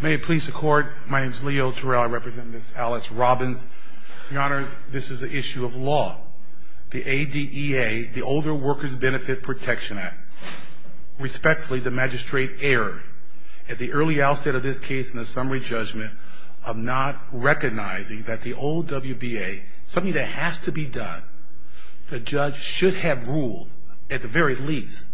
May it please the court. My name is Leo Terrell. I represent Ms. Alice Robbins. Your honors, this is an issue of law. The ADEA, the Older Workers Benefit Protection Act. Respectfully, the magistrate erred at the early outset of this case in the summary judgment of not recognizing that the OWBA, something that has to be done, the judge should have ruled, at the very least,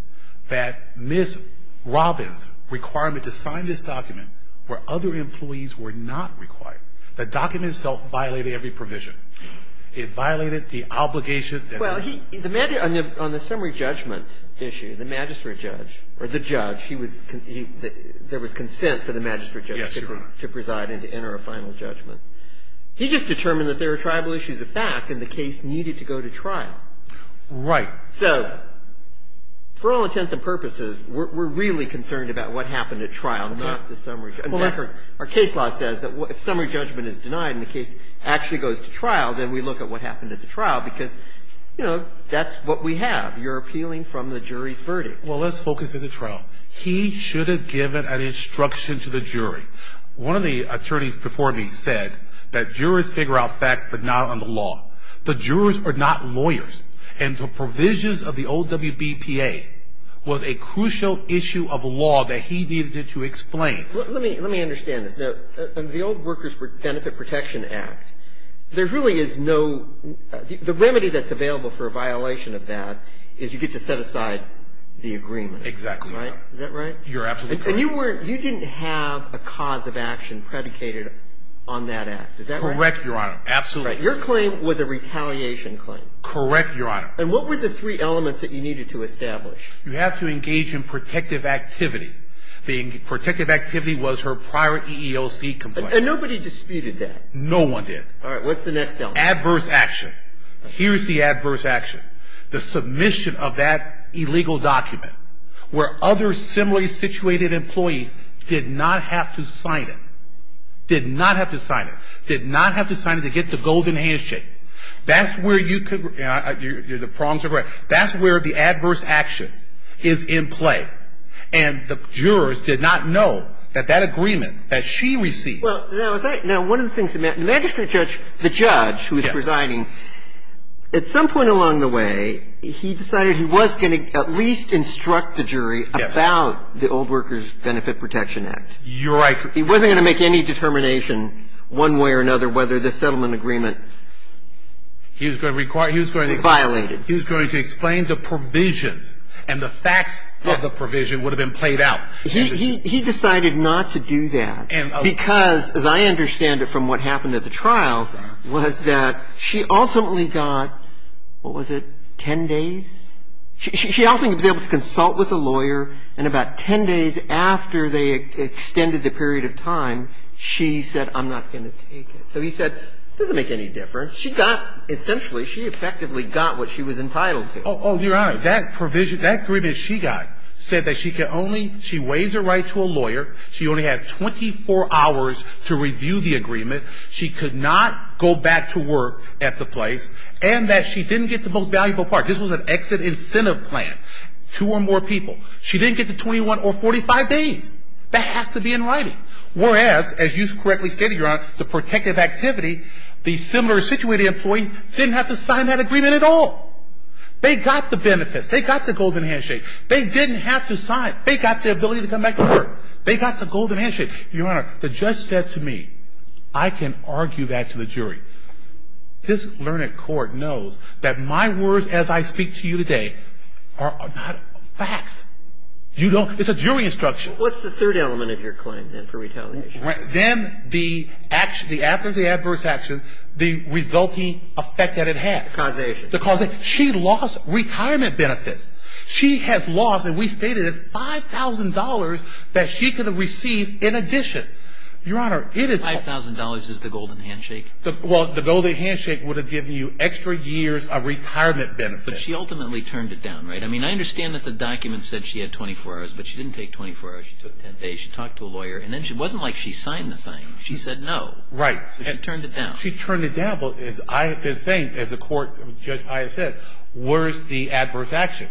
that Ms. Robbins' requirement to sign this document where other employees were not required. The document itself violated every provision. It violated the obligation. Well, on the summary judgment issue, the magistrate judge, or the judge, there was consent for the magistrate judge to preside and to enter a final judgment. He just determined that there were tribal issues of fact and the case needed to go to trial. Right. So for all intents and purposes, we're really concerned about what happened at trial, not the summary. In fact, our case law says that if summary judgment is denied and the case actually goes to trial, then we look at what happened at the trial because, you know, that's what we have. You're appealing from the jury's verdict. Well, let's focus on the trial. He should have given an instruction to the jury. One of the attorneys before me said that jurors figure out facts, but not on the law. The jurors are not lawyers. And the provisions of the OWBPA was a crucial issue of law that he needed to explain. Let me understand this. The old Workers' Benefit Protection Act, there really is no the remedy that's available for a violation of that is you get to set aside the agreement. Exactly right. Is that right? You're absolutely correct. And you didn't have a cause of action predicated on that act. Is that right? Correct, Your Honor. Absolutely. Your claim was a retaliation claim. Correct, Your Honor. And what were the three elements that you needed to establish? You have to engage in protective activity. The protective activity was her prior EEOC complaint. And nobody disputed that. No one did. All right. What's the next element? Adverse action. Here's the adverse action. The submission of that illegal document where other similarly situated employees did not have to sign it, did not have to sign it, did not have to sign it to get the golden handshake. That's where you could the problems are great. But that's where the adverse action is in play. And the jurors did not know that that agreement that she received. Well, now, one of the things that the magistrate judge, the judge who was presiding, at some point along the way, he decided he was going to at least instruct the jury about the Old Workers' Benefit Protection Act. You're right. He wasn't going to make any determination one way or another whether the settlement agreement was violated. He was going to explain the provisions and the facts of the provision would have been played out. He decided not to do that because, as I understand it from what happened at the trial, was that she ultimately got, what was it, 10 days? She ultimately was able to consult with a lawyer. And about 10 days after they extended the period of time, she said, I'm not going to take it. So he said, it doesn't make any difference. She got, essentially, she effectively got what she was entitled to. Oh, Your Honor, that provision, that agreement she got said that she could only, she waives her right to a lawyer. She only had 24 hours to review the agreement. She could not go back to work at the place. And that she didn't get the most valuable part. This was an exit incentive plan, two or more people. She didn't get the 21 or 45 days. That has to be in writing. Whereas, as you correctly stated, Your Honor, the protective activity, the similar situated employees didn't have to sign that agreement at all. They got the benefits. They got the golden handshake. They didn't have to sign. They got the ability to come back to work. They got the golden handshake. Your Honor, the judge said to me, I can argue that to the jury. This learned court knows that my words as I speak to you today are not facts. You don't, it's a jury instruction. What's the third element of your claim, then, for retaliation? Then, after the adverse action, the resulting effect that it had. The causation. The causation. She lost retirement benefits. She had lost, and we stated it, $5,000 that she could have received in addition. Your Honor, it is. $5,000 is the golden handshake? Well, the golden handshake would have given you extra years of retirement benefits. But she ultimately turned it down, right? I mean, I understand that the document said she had 24 hours, but she didn't take 24 hours. She took 10 days. She talked to a lawyer. And then it wasn't like she signed the thing. She said no. Right. She turned it down. She turned it down. But as I have been saying, as the court, Judge Aya said, where is the adverse action?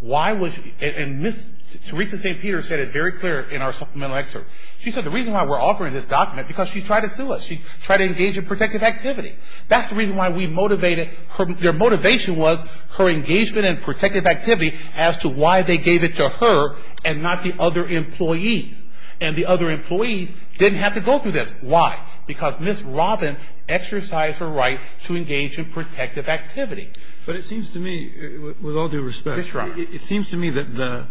Why was, and Ms. Teresa St. Peter said it very clear in our supplemental excerpt. She said the reason why we're offering this document, because she tried to sue us. She tried to engage in protective activity. That's the reason why we motivated her. Their motivation was her engagement in protective activity as to why they gave it to her and not the other employees. And the other employees didn't have to go through this. Why? Because Ms. Robin exercised her right to engage in protective activity. But it seems to me, with all due respect, it seems to me that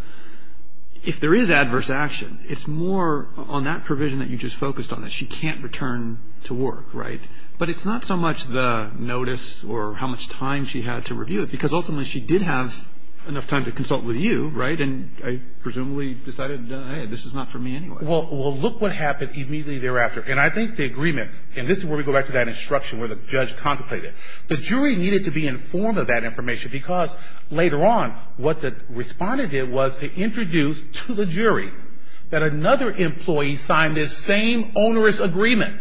if there is adverse action, it's more on that provision that you just focused on, that she can't return to work, right? But it's not so much the notice or how much time she had to review it, because ultimately she did have enough time to consult with you, right? And then presumably decided, hey, this is not for me anyway. Well, look what happened immediately thereafter. And I think the agreement, and this is where we go back to that instruction where the judge contemplated. The jury needed to be informed of that information because later on, what the respondent did was to introduce to the jury that another employee signed this same onerous agreement,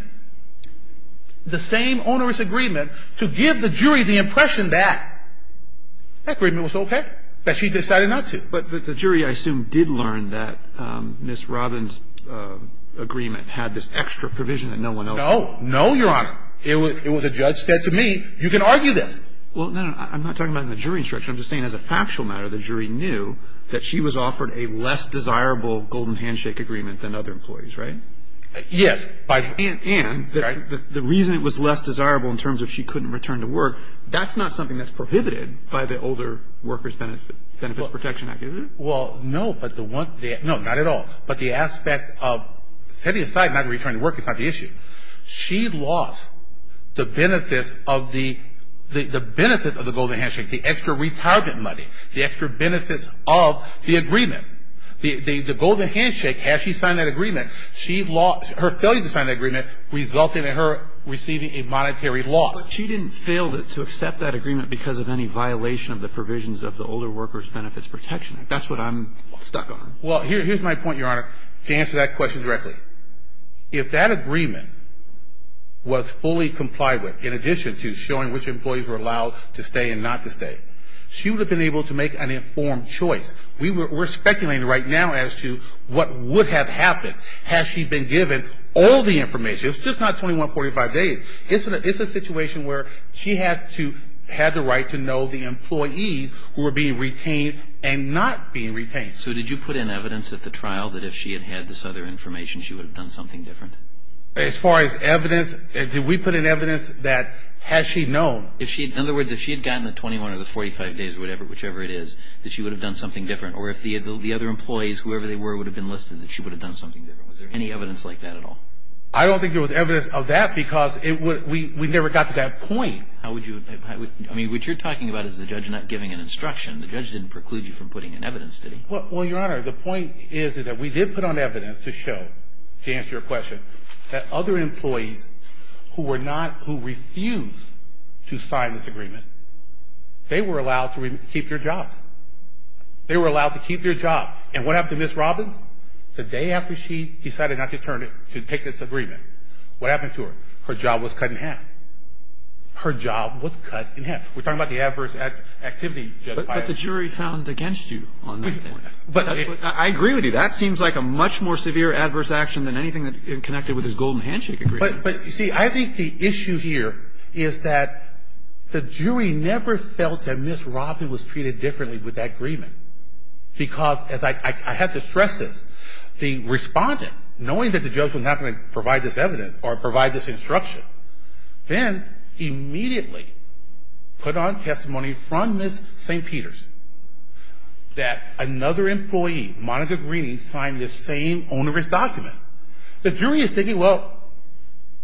the same onerous agreement, to give the jury the impression that that agreement was okay, that she decided not to. But the jury, I assume, did learn that Ms. Robin's agreement had this extra provision that no one else had. No. No, Your Honor. It was a judge said to me, you can argue this. Well, no, no. I'm not talking about in the jury instruction. I'm just saying as a factual matter, the jury knew that she was offered a less desirable golden handshake agreement than other employees, right? Yes. And the reason it was less desirable in terms of she couldn't return to work, that's not something that's prohibited by the Older Workers Benefit Protection Act, is it? Well, no, but the one thing, no, not at all. But the aspect of setting aside not returning to work is not the issue. She lost the benefits of the golden handshake, the extra retarget money, the extra benefits of the agreement. The golden handshake, as she signed that agreement, she lost her failure to sign that agreement, resulting in her receiving a monetary loss. She didn't fail to accept that agreement because of any violation of the provisions of the Older Workers Benefits Protection Act. That's what I'm stuck on. Well, here's my point, Your Honor, to answer that question directly. If that agreement was fully complied with in addition to showing which employees were allowed to stay and not to stay, she would have been able to make an informed choice. We're speculating right now as to what would have happened had she been given all the information. It's just not 2145 days. It's a situation where she had to have the right to know the employees who were being retained and not being retained. So did you put in evidence at the trial that if she had had this other information, she would have done something different? As far as evidence, did we put in evidence that had she known? In other words, if she had gotten the 21 or the 45 days or whatever, whichever it is, that she would have done something different. Or if the other employees, whoever they were, would have been listed, that she would have done something different. Was there any evidence like that at all? I don't think there was evidence of that because we never got to that point. I mean, what you're talking about is the judge not giving an instruction. The judge didn't preclude you from putting in evidence, did he? Well, Your Honor, the point is that we did put on evidence to show, to answer your question, that other employees who refused to sign this agreement, they were allowed to keep their jobs. They were allowed to keep their jobs. And what happened to Ms. Robbins? The day after she decided not to turn it, to take this agreement, what happened to her? Her job was cut in half. Her job was cut in half. We're talking about the adverse activity. But the jury found against you on that point. I agree with you. That seems like a much more severe adverse action than anything that's connected with this Golden Handshake Agreement. But, you see, I think the issue here is that the jury never felt that Ms. Robbins was treated differently with that agreement. Because, as I have to stress this, the respondent, knowing that the judge was not going to provide this evidence or provide this instruction, then immediately put on testimony from Ms. St. Peter's that another employee, Monica Greeney, signed this same onerous document. The jury is thinking, well,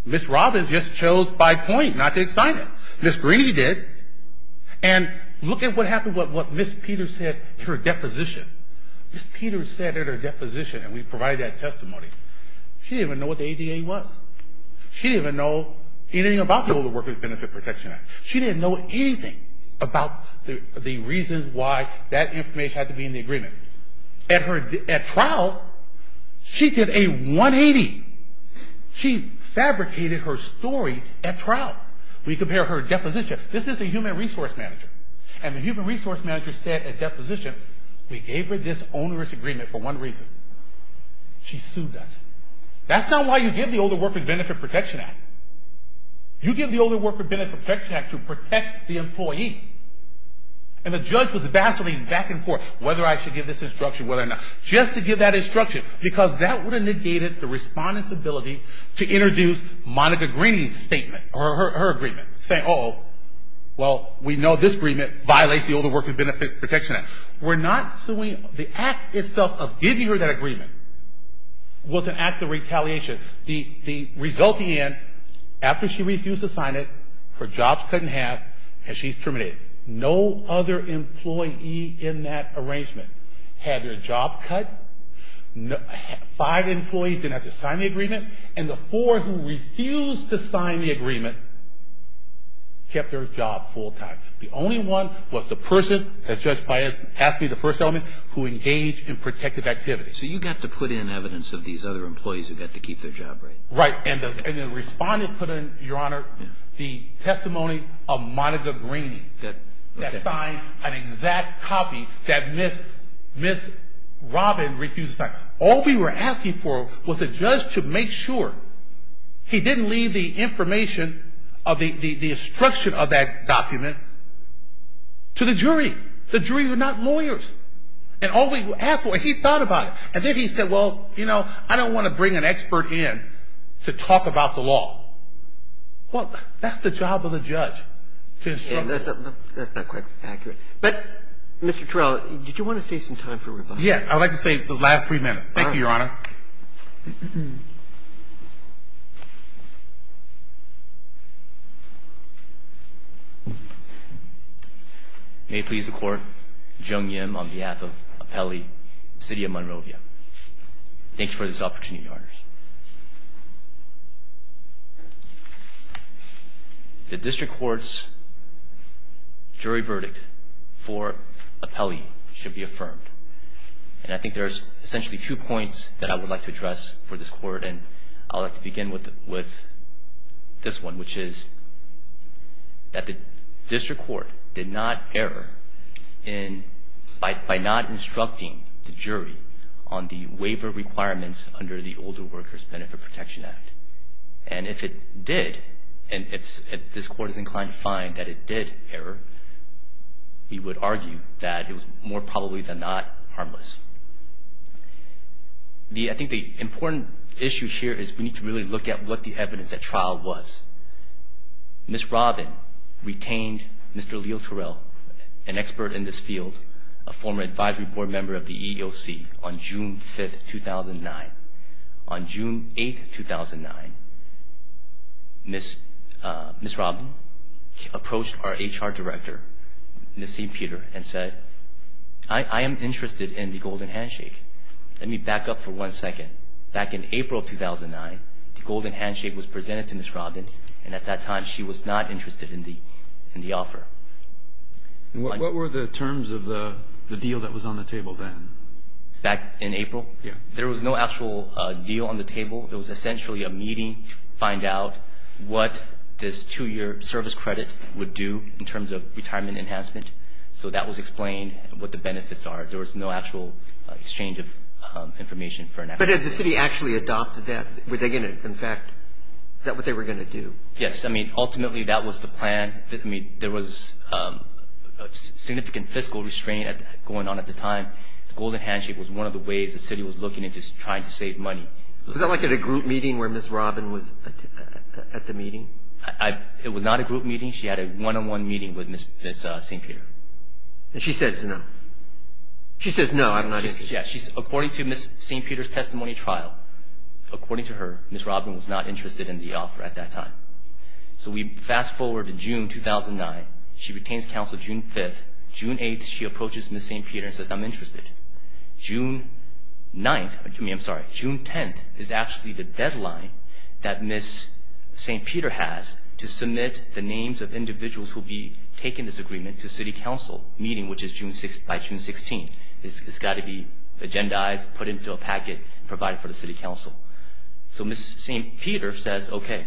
Ms. Robbins just chose by point not to sign it. Ms. Greeney did. And look at what happened with what Ms. Peter said in her deposition. Ms. Peter said in her deposition, and we provided that testimony, she didn't even know what the ADA was. She didn't even know anything about the Older Workers Benefit Protection Act. She didn't know anything about the reasons why that information had to be in the agreement. At trial, she did a 180. She fabricated her story at trial. We compare her deposition. This is the human resource manager. And the human resource manager said at deposition, we gave her this onerous agreement for one reason. She sued us. That's not why you give the Older Workers Benefit Protection Act. You give the Older Workers Benefit Protection Act to protect the employee. And the judge was vacillating back and forth, whether I should give this instruction, whether not. She has to give that instruction, because that would have negated the respondent's ability to introduce Monica Greeney's statement or her agreement, saying, uh-oh, well, we know this agreement violates the Older Workers Benefit Protection Act. We're not suing. The act itself of giving her that agreement was an act of retaliation. The resulting end, after she refused to sign it, her job's cut in half, and she's terminated. No other employee in that arrangement had their job cut. Five employees didn't have to sign the agreement. And the four who refused to sign the agreement kept their job full time. The only one was the person, as Judge Pius asked me, the first element, who engaged in protective activity. So you got to put in evidence of these other employees who got to keep their job, right? And the respondent put in, Your Honor, the testimony of Monica Greeney. That signed an exact copy that Ms. Robin refused to sign. All we were asking for was the judge to make sure he didn't leave the information of the instruction of that document to the jury. The jury were not lawyers. And all we asked for, he thought about it. And then he said, well, you know, I don't want to bring an expert in to talk about the law. Well, that's the job of the judge, to instruct. That's not quite accurate. But, Mr. Torello, did you want to save some time for rebuttals? Yes. I would like to save the last three minutes. Thank you, Your Honor. May it please the Court, Jung Yim on behalf of Appelli, City of Monrovia. Thank you for this opportunity, Your Honors. The district court's jury verdict for Appelli should be affirmed. And I think there's essentially two points that I would like to address for this court. And I'd like to begin with this one, which is that the district court did not err in, by not instructing the jury on the waiver requirements under the Older Workers Benefit Protection Act. And if it did, and if this court is inclined to find that it did err, we would argue that it was more probably than not harmless. I think the important issue here is we need to really look at what the evidence at trial was. Ms. Robin retained Mr. Leo Torello, an expert in this field, a former advisory board member of the EEOC, on June 5th, 2009. On June 8th, 2009, Ms. Robin approached our HR director, Ms. St. Peter, and said, I am interested in the Golden Handshake. Let me back up for one second. She said back in April of 2009, the Golden Handshake was presented to Ms. Robin, and at that time she was not interested in the offer. What were the terms of the deal that was on the table then? Back in April? Yeah. There was no actual deal on the table. It was essentially a meeting to find out what this two-year service credit would do in terms of retirement enhancement. So that was explained what the benefits are. There was no actual exchange of information. But had the city actually adopted that? In fact, is that what they were going to do? Yes. I mean, ultimately that was the plan. I mean, there was significant fiscal restraint going on at the time. The Golden Handshake was one of the ways the city was looking at just trying to save money. Was that like at a group meeting where Ms. Robin was at the meeting? It was not a group meeting. She had a one-on-one meeting with Ms. St. Peter. And she says no. She says no. According to Ms. St. Peter's testimony trial, according to her, Ms. Robin was not interested in the offer at that time. So we fast forward to June 2009. She retains counsel June 5th. June 8th, she approaches Ms. St. Peter and says, I'm interested. June 9th, I'm sorry, June 10th is actually the deadline that Ms. St. Peter has to submit the names of individuals who will be taking this agreement to city council meeting, which is by June 16th. It's got to be agendized, put into a packet, and provided for the city council. So Ms. St. Peter says, okay,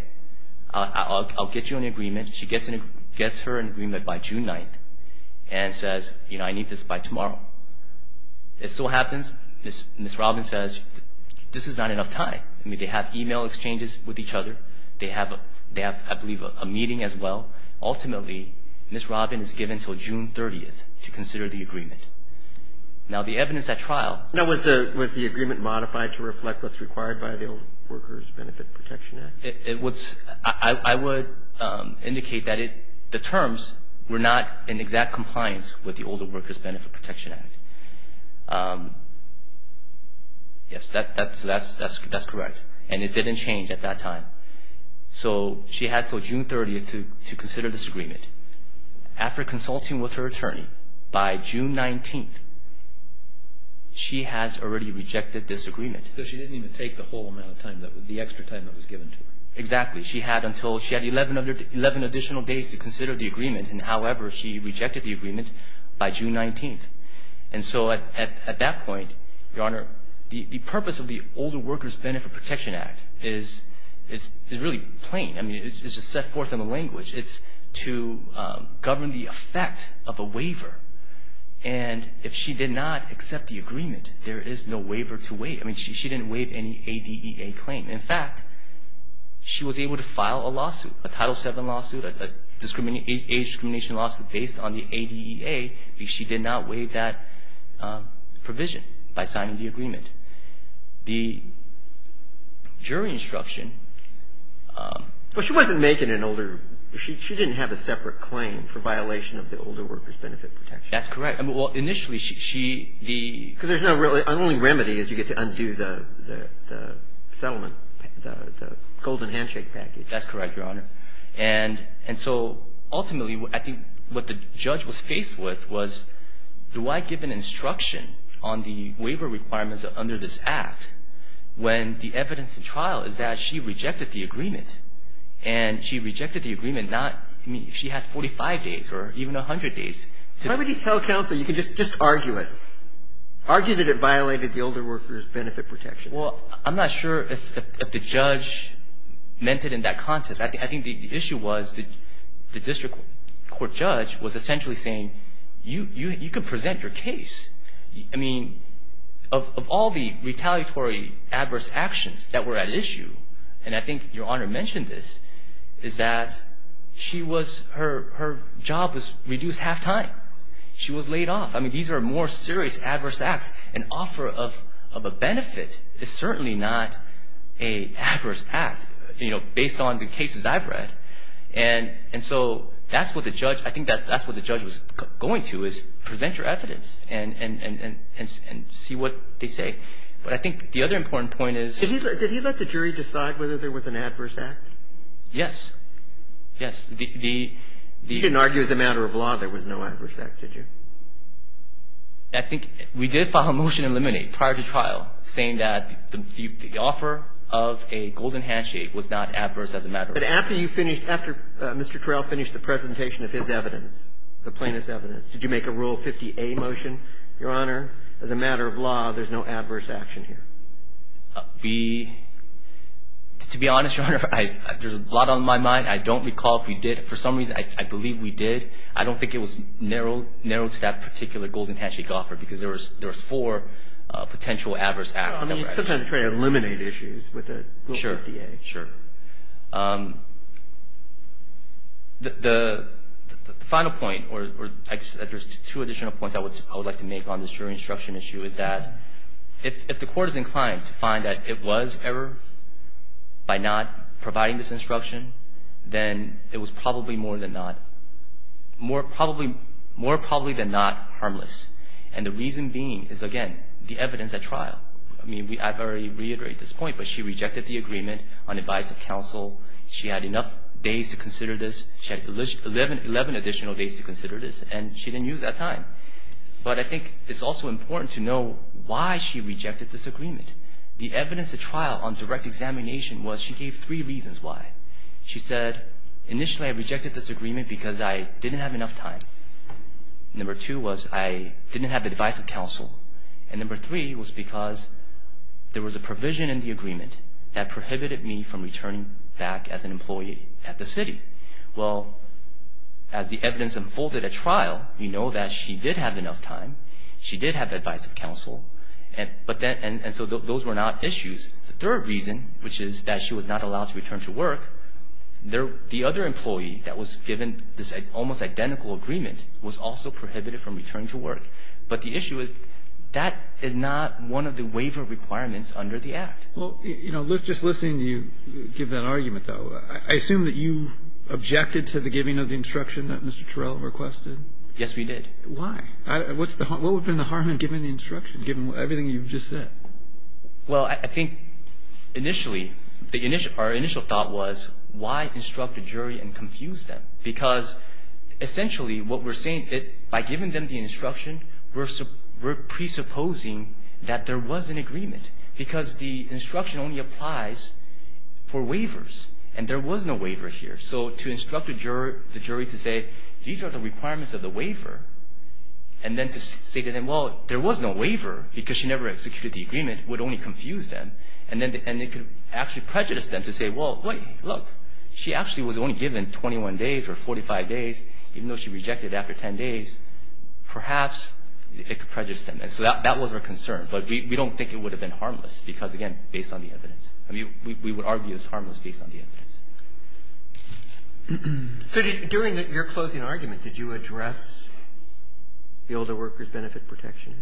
I'll get you an agreement. She gets her an agreement by June 9th and says, you know, I need this by tomorrow. It still happens. Ms. Robin says, this is not enough time. I mean, they have email exchanges with each other. They have, I believe, a meeting as well. Ultimately, Ms. Robin is given until June 30th to consider the agreement. Now, the evidence at trial. Now, was the agreement modified to reflect what's required by the Older Workers Benefit Protection Act? I would indicate that the terms were not in exact compliance with the Older Workers Benefit Protection Act. Yes, that's correct. And it didn't change at that time. So she has until June 30th to consider this agreement. After consulting with her attorney, by June 19th, she has already rejected this agreement. So she didn't even take the whole amount of time, the extra time that was given to her. Exactly. She had 11 additional days to consider the agreement, and however, she rejected the agreement by June 19th. And so at that point, Your Honor, the purpose of the Older Workers Benefit Protection Act is really plain. I mean, it's just set forth in the language. It's to govern the effect of a waiver. And if she did not accept the agreement, there is no waiver to waive. I mean, she didn't waive any ADEA claim. In fact, she was able to file a lawsuit, a Title VII lawsuit, an age discrimination lawsuit based on the ADEA, because she did not waive that provision by signing the agreement. The jury instruction – Well, she wasn't making an older – she didn't have a separate claim for violation of the Older Workers Benefit Protection Act. That's correct. Well, initially, she – Because there's no – the only remedy is you get to undo the settlement, the golden handshake package. That's correct, Your Honor. And so ultimately, I think what the judge was faced with was, do I give an instruction on the waiver requirements under this act when the evidence in trial is that she rejected the agreement? And she rejected the agreement not – I mean, she had 45 days or even 100 days to – Why would you tell counsel – you could just argue it. Argue that it violated the Older Workers Benefit Protection Act. Well, I'm not sure if the judge meant it in that context. I think the issue was the district court judge was essentially saying, you could present your case. I mean, of all the retaliatory adverse actions that were at issue, and I think Your Honor mentioned this, is that she was – her job was reduced half-time. She was laid off. I mean, these are more serious adverse acts. An offer of a benefit is certainly not an adverse act, you know, based on the cases I've read. And so that's what the judge – I think that's what the judge was going to, is present your evidence and see what they say. But I think the other important point is – Did he let the jury decide whether there was an adverse act? Yes. Yes. He didn't argue as a matter of law there was no adverse act, did you? I think we did file a motion to eliminate prior to trial saying that the offer of a golden handshake was not adverse as a matter of law. But after you finished – after Mr. Correll finished the presentation of his evidence, the plaintiff's evidence, did you make a Rule 50A motion? Your Honor, as a matter of law, there's no adverse action here. We – to be honest, Your Honor, there's a lot on my mind. I don't recall if we did. For some reason, I believe we did. I don't think it was narrowed to that particular golden handshake offer because there was four potential adverse acts. I mean, it's sometimes a try to eliminate issues with a Rule 50A. Sure. Sure. The final point, or there's two additional points I would like to make on this jury instruction issue, is that if the court is inclined to find that it was error by not providing this instruction, then it was probably more than not – more probably than not harmless. And the reason being is, again, the evidence at trial. I mean, I've already reiterated this point, but she rejected the agreement on advice of counsel. She had enough days to consider this. She had 11 additional days to consider this, and she didn't use that time. But I think it's also important to know why she rejected this agreement. The evidence at trial on direct examination was she gave three reasons why. She said, initially, I rejected this agreement because I didn't have enough time. Number two was I didn't have advice of counsel. And number three was because there was a provision in the agreement that prohibited me from returning back as an employee at the city. Well, as the evidence unfolded at trial, we know that she did have enough time. She did have advice of counsel. And so those were not issues. The third reason, which is that she was not allowed to return to work, the other employee that was given this almost identical agreement was also prohibited from returning to work. But the issue is that is not one of the waiver requirements under the Act. Well, you know, just listening to you give that argument, though, I assume that you objected to the giving of the instruction that Mr. Terrell requested. Yes, we did. Why? What's the harm? What would have been the harm in giving the instruction, given everything you've just said? Well, I think, initially, the initial – our initial thought was, why instruct a jury and confuse them? Because, essentially, what we're saying, by giving them the instruction, we're presupposing that there was an agreement, because the instruction only applies for waivers. And there was no waiver here. So to instruct the jury to say, these are the requirements of the waiver, and then to say to them, well, there was no waiver, because she never executed the agreement, would only confuse them. And it could actually prejudice them to say, well, look, she actually was only given 21 days or 45 days. Even though she rejected it after 10 days, perhaps it could prejudice them. And so that was our concern. But we don't think it would have been harmless, because, again, based on the evidence. I mean, we would argue it's harmless based on the evidence. So during your closing argument, did you address the Older Workers Benefit Protection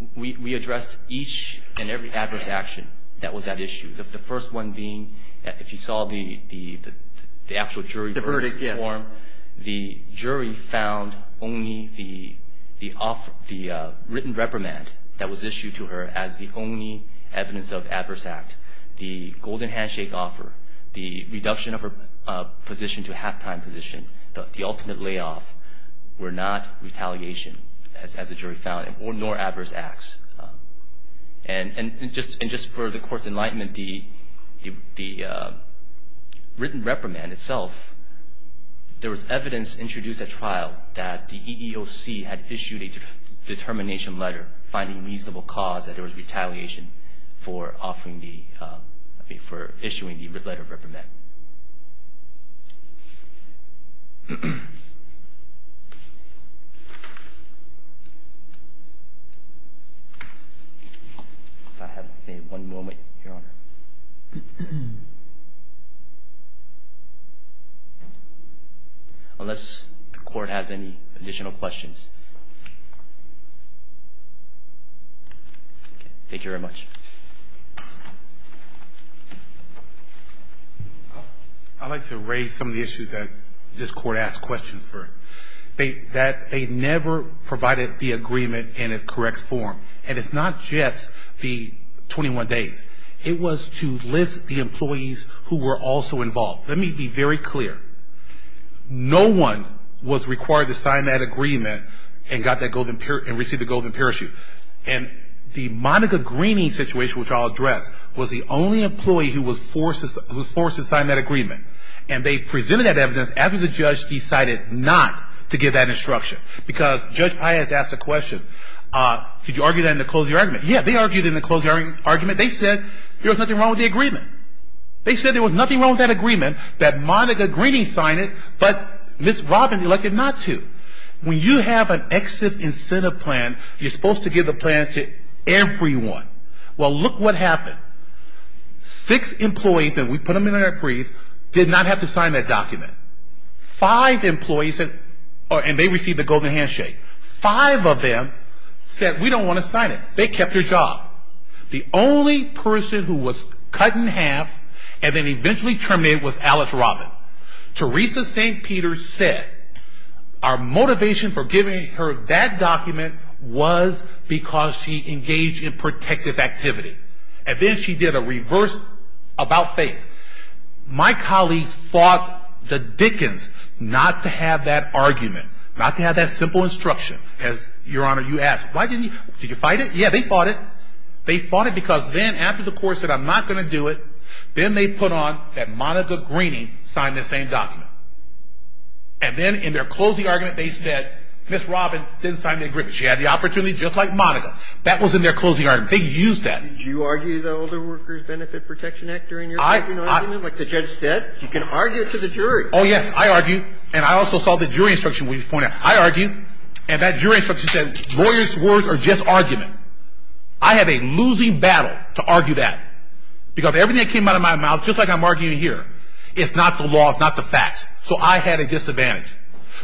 Act? We addressed each and every adverse action that was at issue, the first one being, if you saw the actual jury verdict form. The verdict, yes. The jury found only the written reprimand that was issued to her as the only evidence of adverse act. The golden handshake offer, the reduction of her position to a halftime position, the ultimate layoff, were not retaliation, as the jury found, nor adverse acts. And just for the Court's enlightenment, the written reprimand itself, there was evidence introduced at trial that the EEOC had issued a determination letter finding reasonable cause that there was retaliation for issuing the letter of reprimand. If I have one moment, Your Honor. Unless the Court has any additional questions. Thank you very much. I'd like to raise some of the issues that this Court asked questions for. That they never provided the agreement in its correct form, and it's not just the 21 days. It was to list the employees who were also involved. Let me be very clear. No one was required to sign that agreement and receive the golden parachute. And the Monica Greeney situation, which I'll address, was the only employee who was forced to sign that agreement. And they presented that evidence after the judge decided not to give that instruction. Because Judge Pius asked a question, could you argue that in the closing argument? Yeah, they argued in the closing argument. They said there was nothing wrong with the agreement. They said there was nothing wrong with that agreement, that Monica Greeney signed it, but Ms. Robbins elected not to. When you have an exit incentive plan, you're supposed to give the plan to everyone. Well, look what happened. Six employees, and we put them in our brief, did not have to sign that document. Five employees, and they received the golden handshake. Five of them said we don't want to sign it. They kept their job. The only person who was cut in half and then eventually terminated was Alice Robbins. Teresa St. Peter said our motivation for giving her that document was because she engaged in protective activity. And then she did a reverse about face. My colleagues fought the Dickens not to have that argument, not to have that simple instruction. As Your Honor, you asked, why didn't you? Did you fight it? Yeah, they fought it. They fought it because then after the court said I'm not going to do it, then they put on that Monica Greeney signed the same document. And then in their closing argument they said Ms. Robbins didn't sign the agreement. She had the opportunity just like Monica. That was in their closing argument. They used that. Did you argue the Older Workers Benefit Protection Act during your closing argument like the judge said? You can argue it to the jury. Oh, yes, I argued. And I also saw the jury instruction when you pointed out. I argued. And that jury instruction said lawyers' words are just arguments. I had a losing battle to argue that because everything that came out of my mouth, just like I'm arguing here, is not the law, is not the facts. So I had a disadvantage.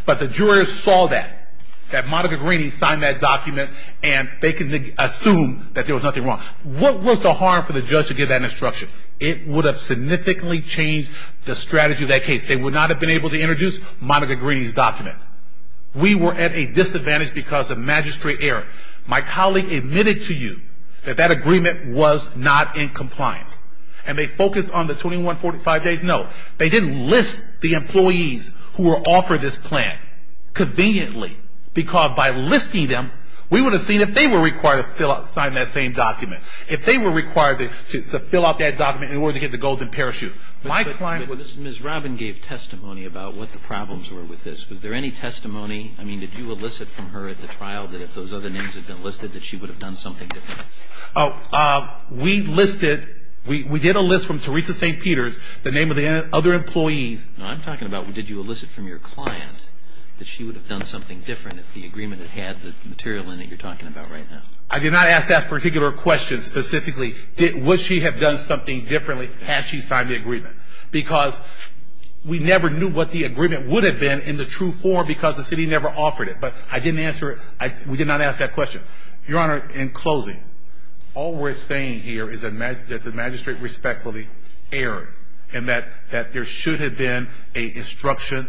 But the jurors saw that, that Monica Greeney signed that document, and they can assume that there was nothing wrong. What was the harm for the judge to give that instruction? It would have significantly changed the strategy of that case. They would not have been able to introduce Monica Greeney's document. We were at a disadvantage because of magistrate error. My colleague admitted to you that that agreement was not in compliance. And they focused on the 2145 days. No, they didn't list the employees who were offered this plan conveniently because by listing them, we would have seen if they were required to sign that same document, if they were required to fill out that document in order to get the golden parachute. My client was. Ms. Robin gave testimony about what the problems were with this. Was there any testimony? I mean, did you elicit from her at the trial that if those other names had been listed that she would have done something different? We listed. We did a list from Teresa St. Peter's, the name of the other employees. I'm talking about did you elicit from your client that she would have done something different if the agreement had had the material in it you're talking about right now. I did not ask that particular question specifically. Would she have done something differently had she signed the agreement? Because we never knew what the agreement would have been in the true form because the city never offered it. But I didn't answer it. We did not ask that question. Your Honor, in closing, all we're saying here is that the magistrate respectfully erred and that there should have been an instruction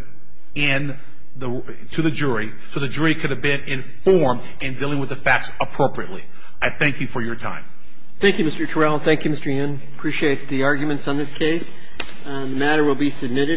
to the jury so the jury could have been informed in dealing with the facts appropriately. I thank you for your time. Thank you, Mr. Terrell. Thank you, Mr. Yin. Appreciate the arguments on this case. The matter will be submitted.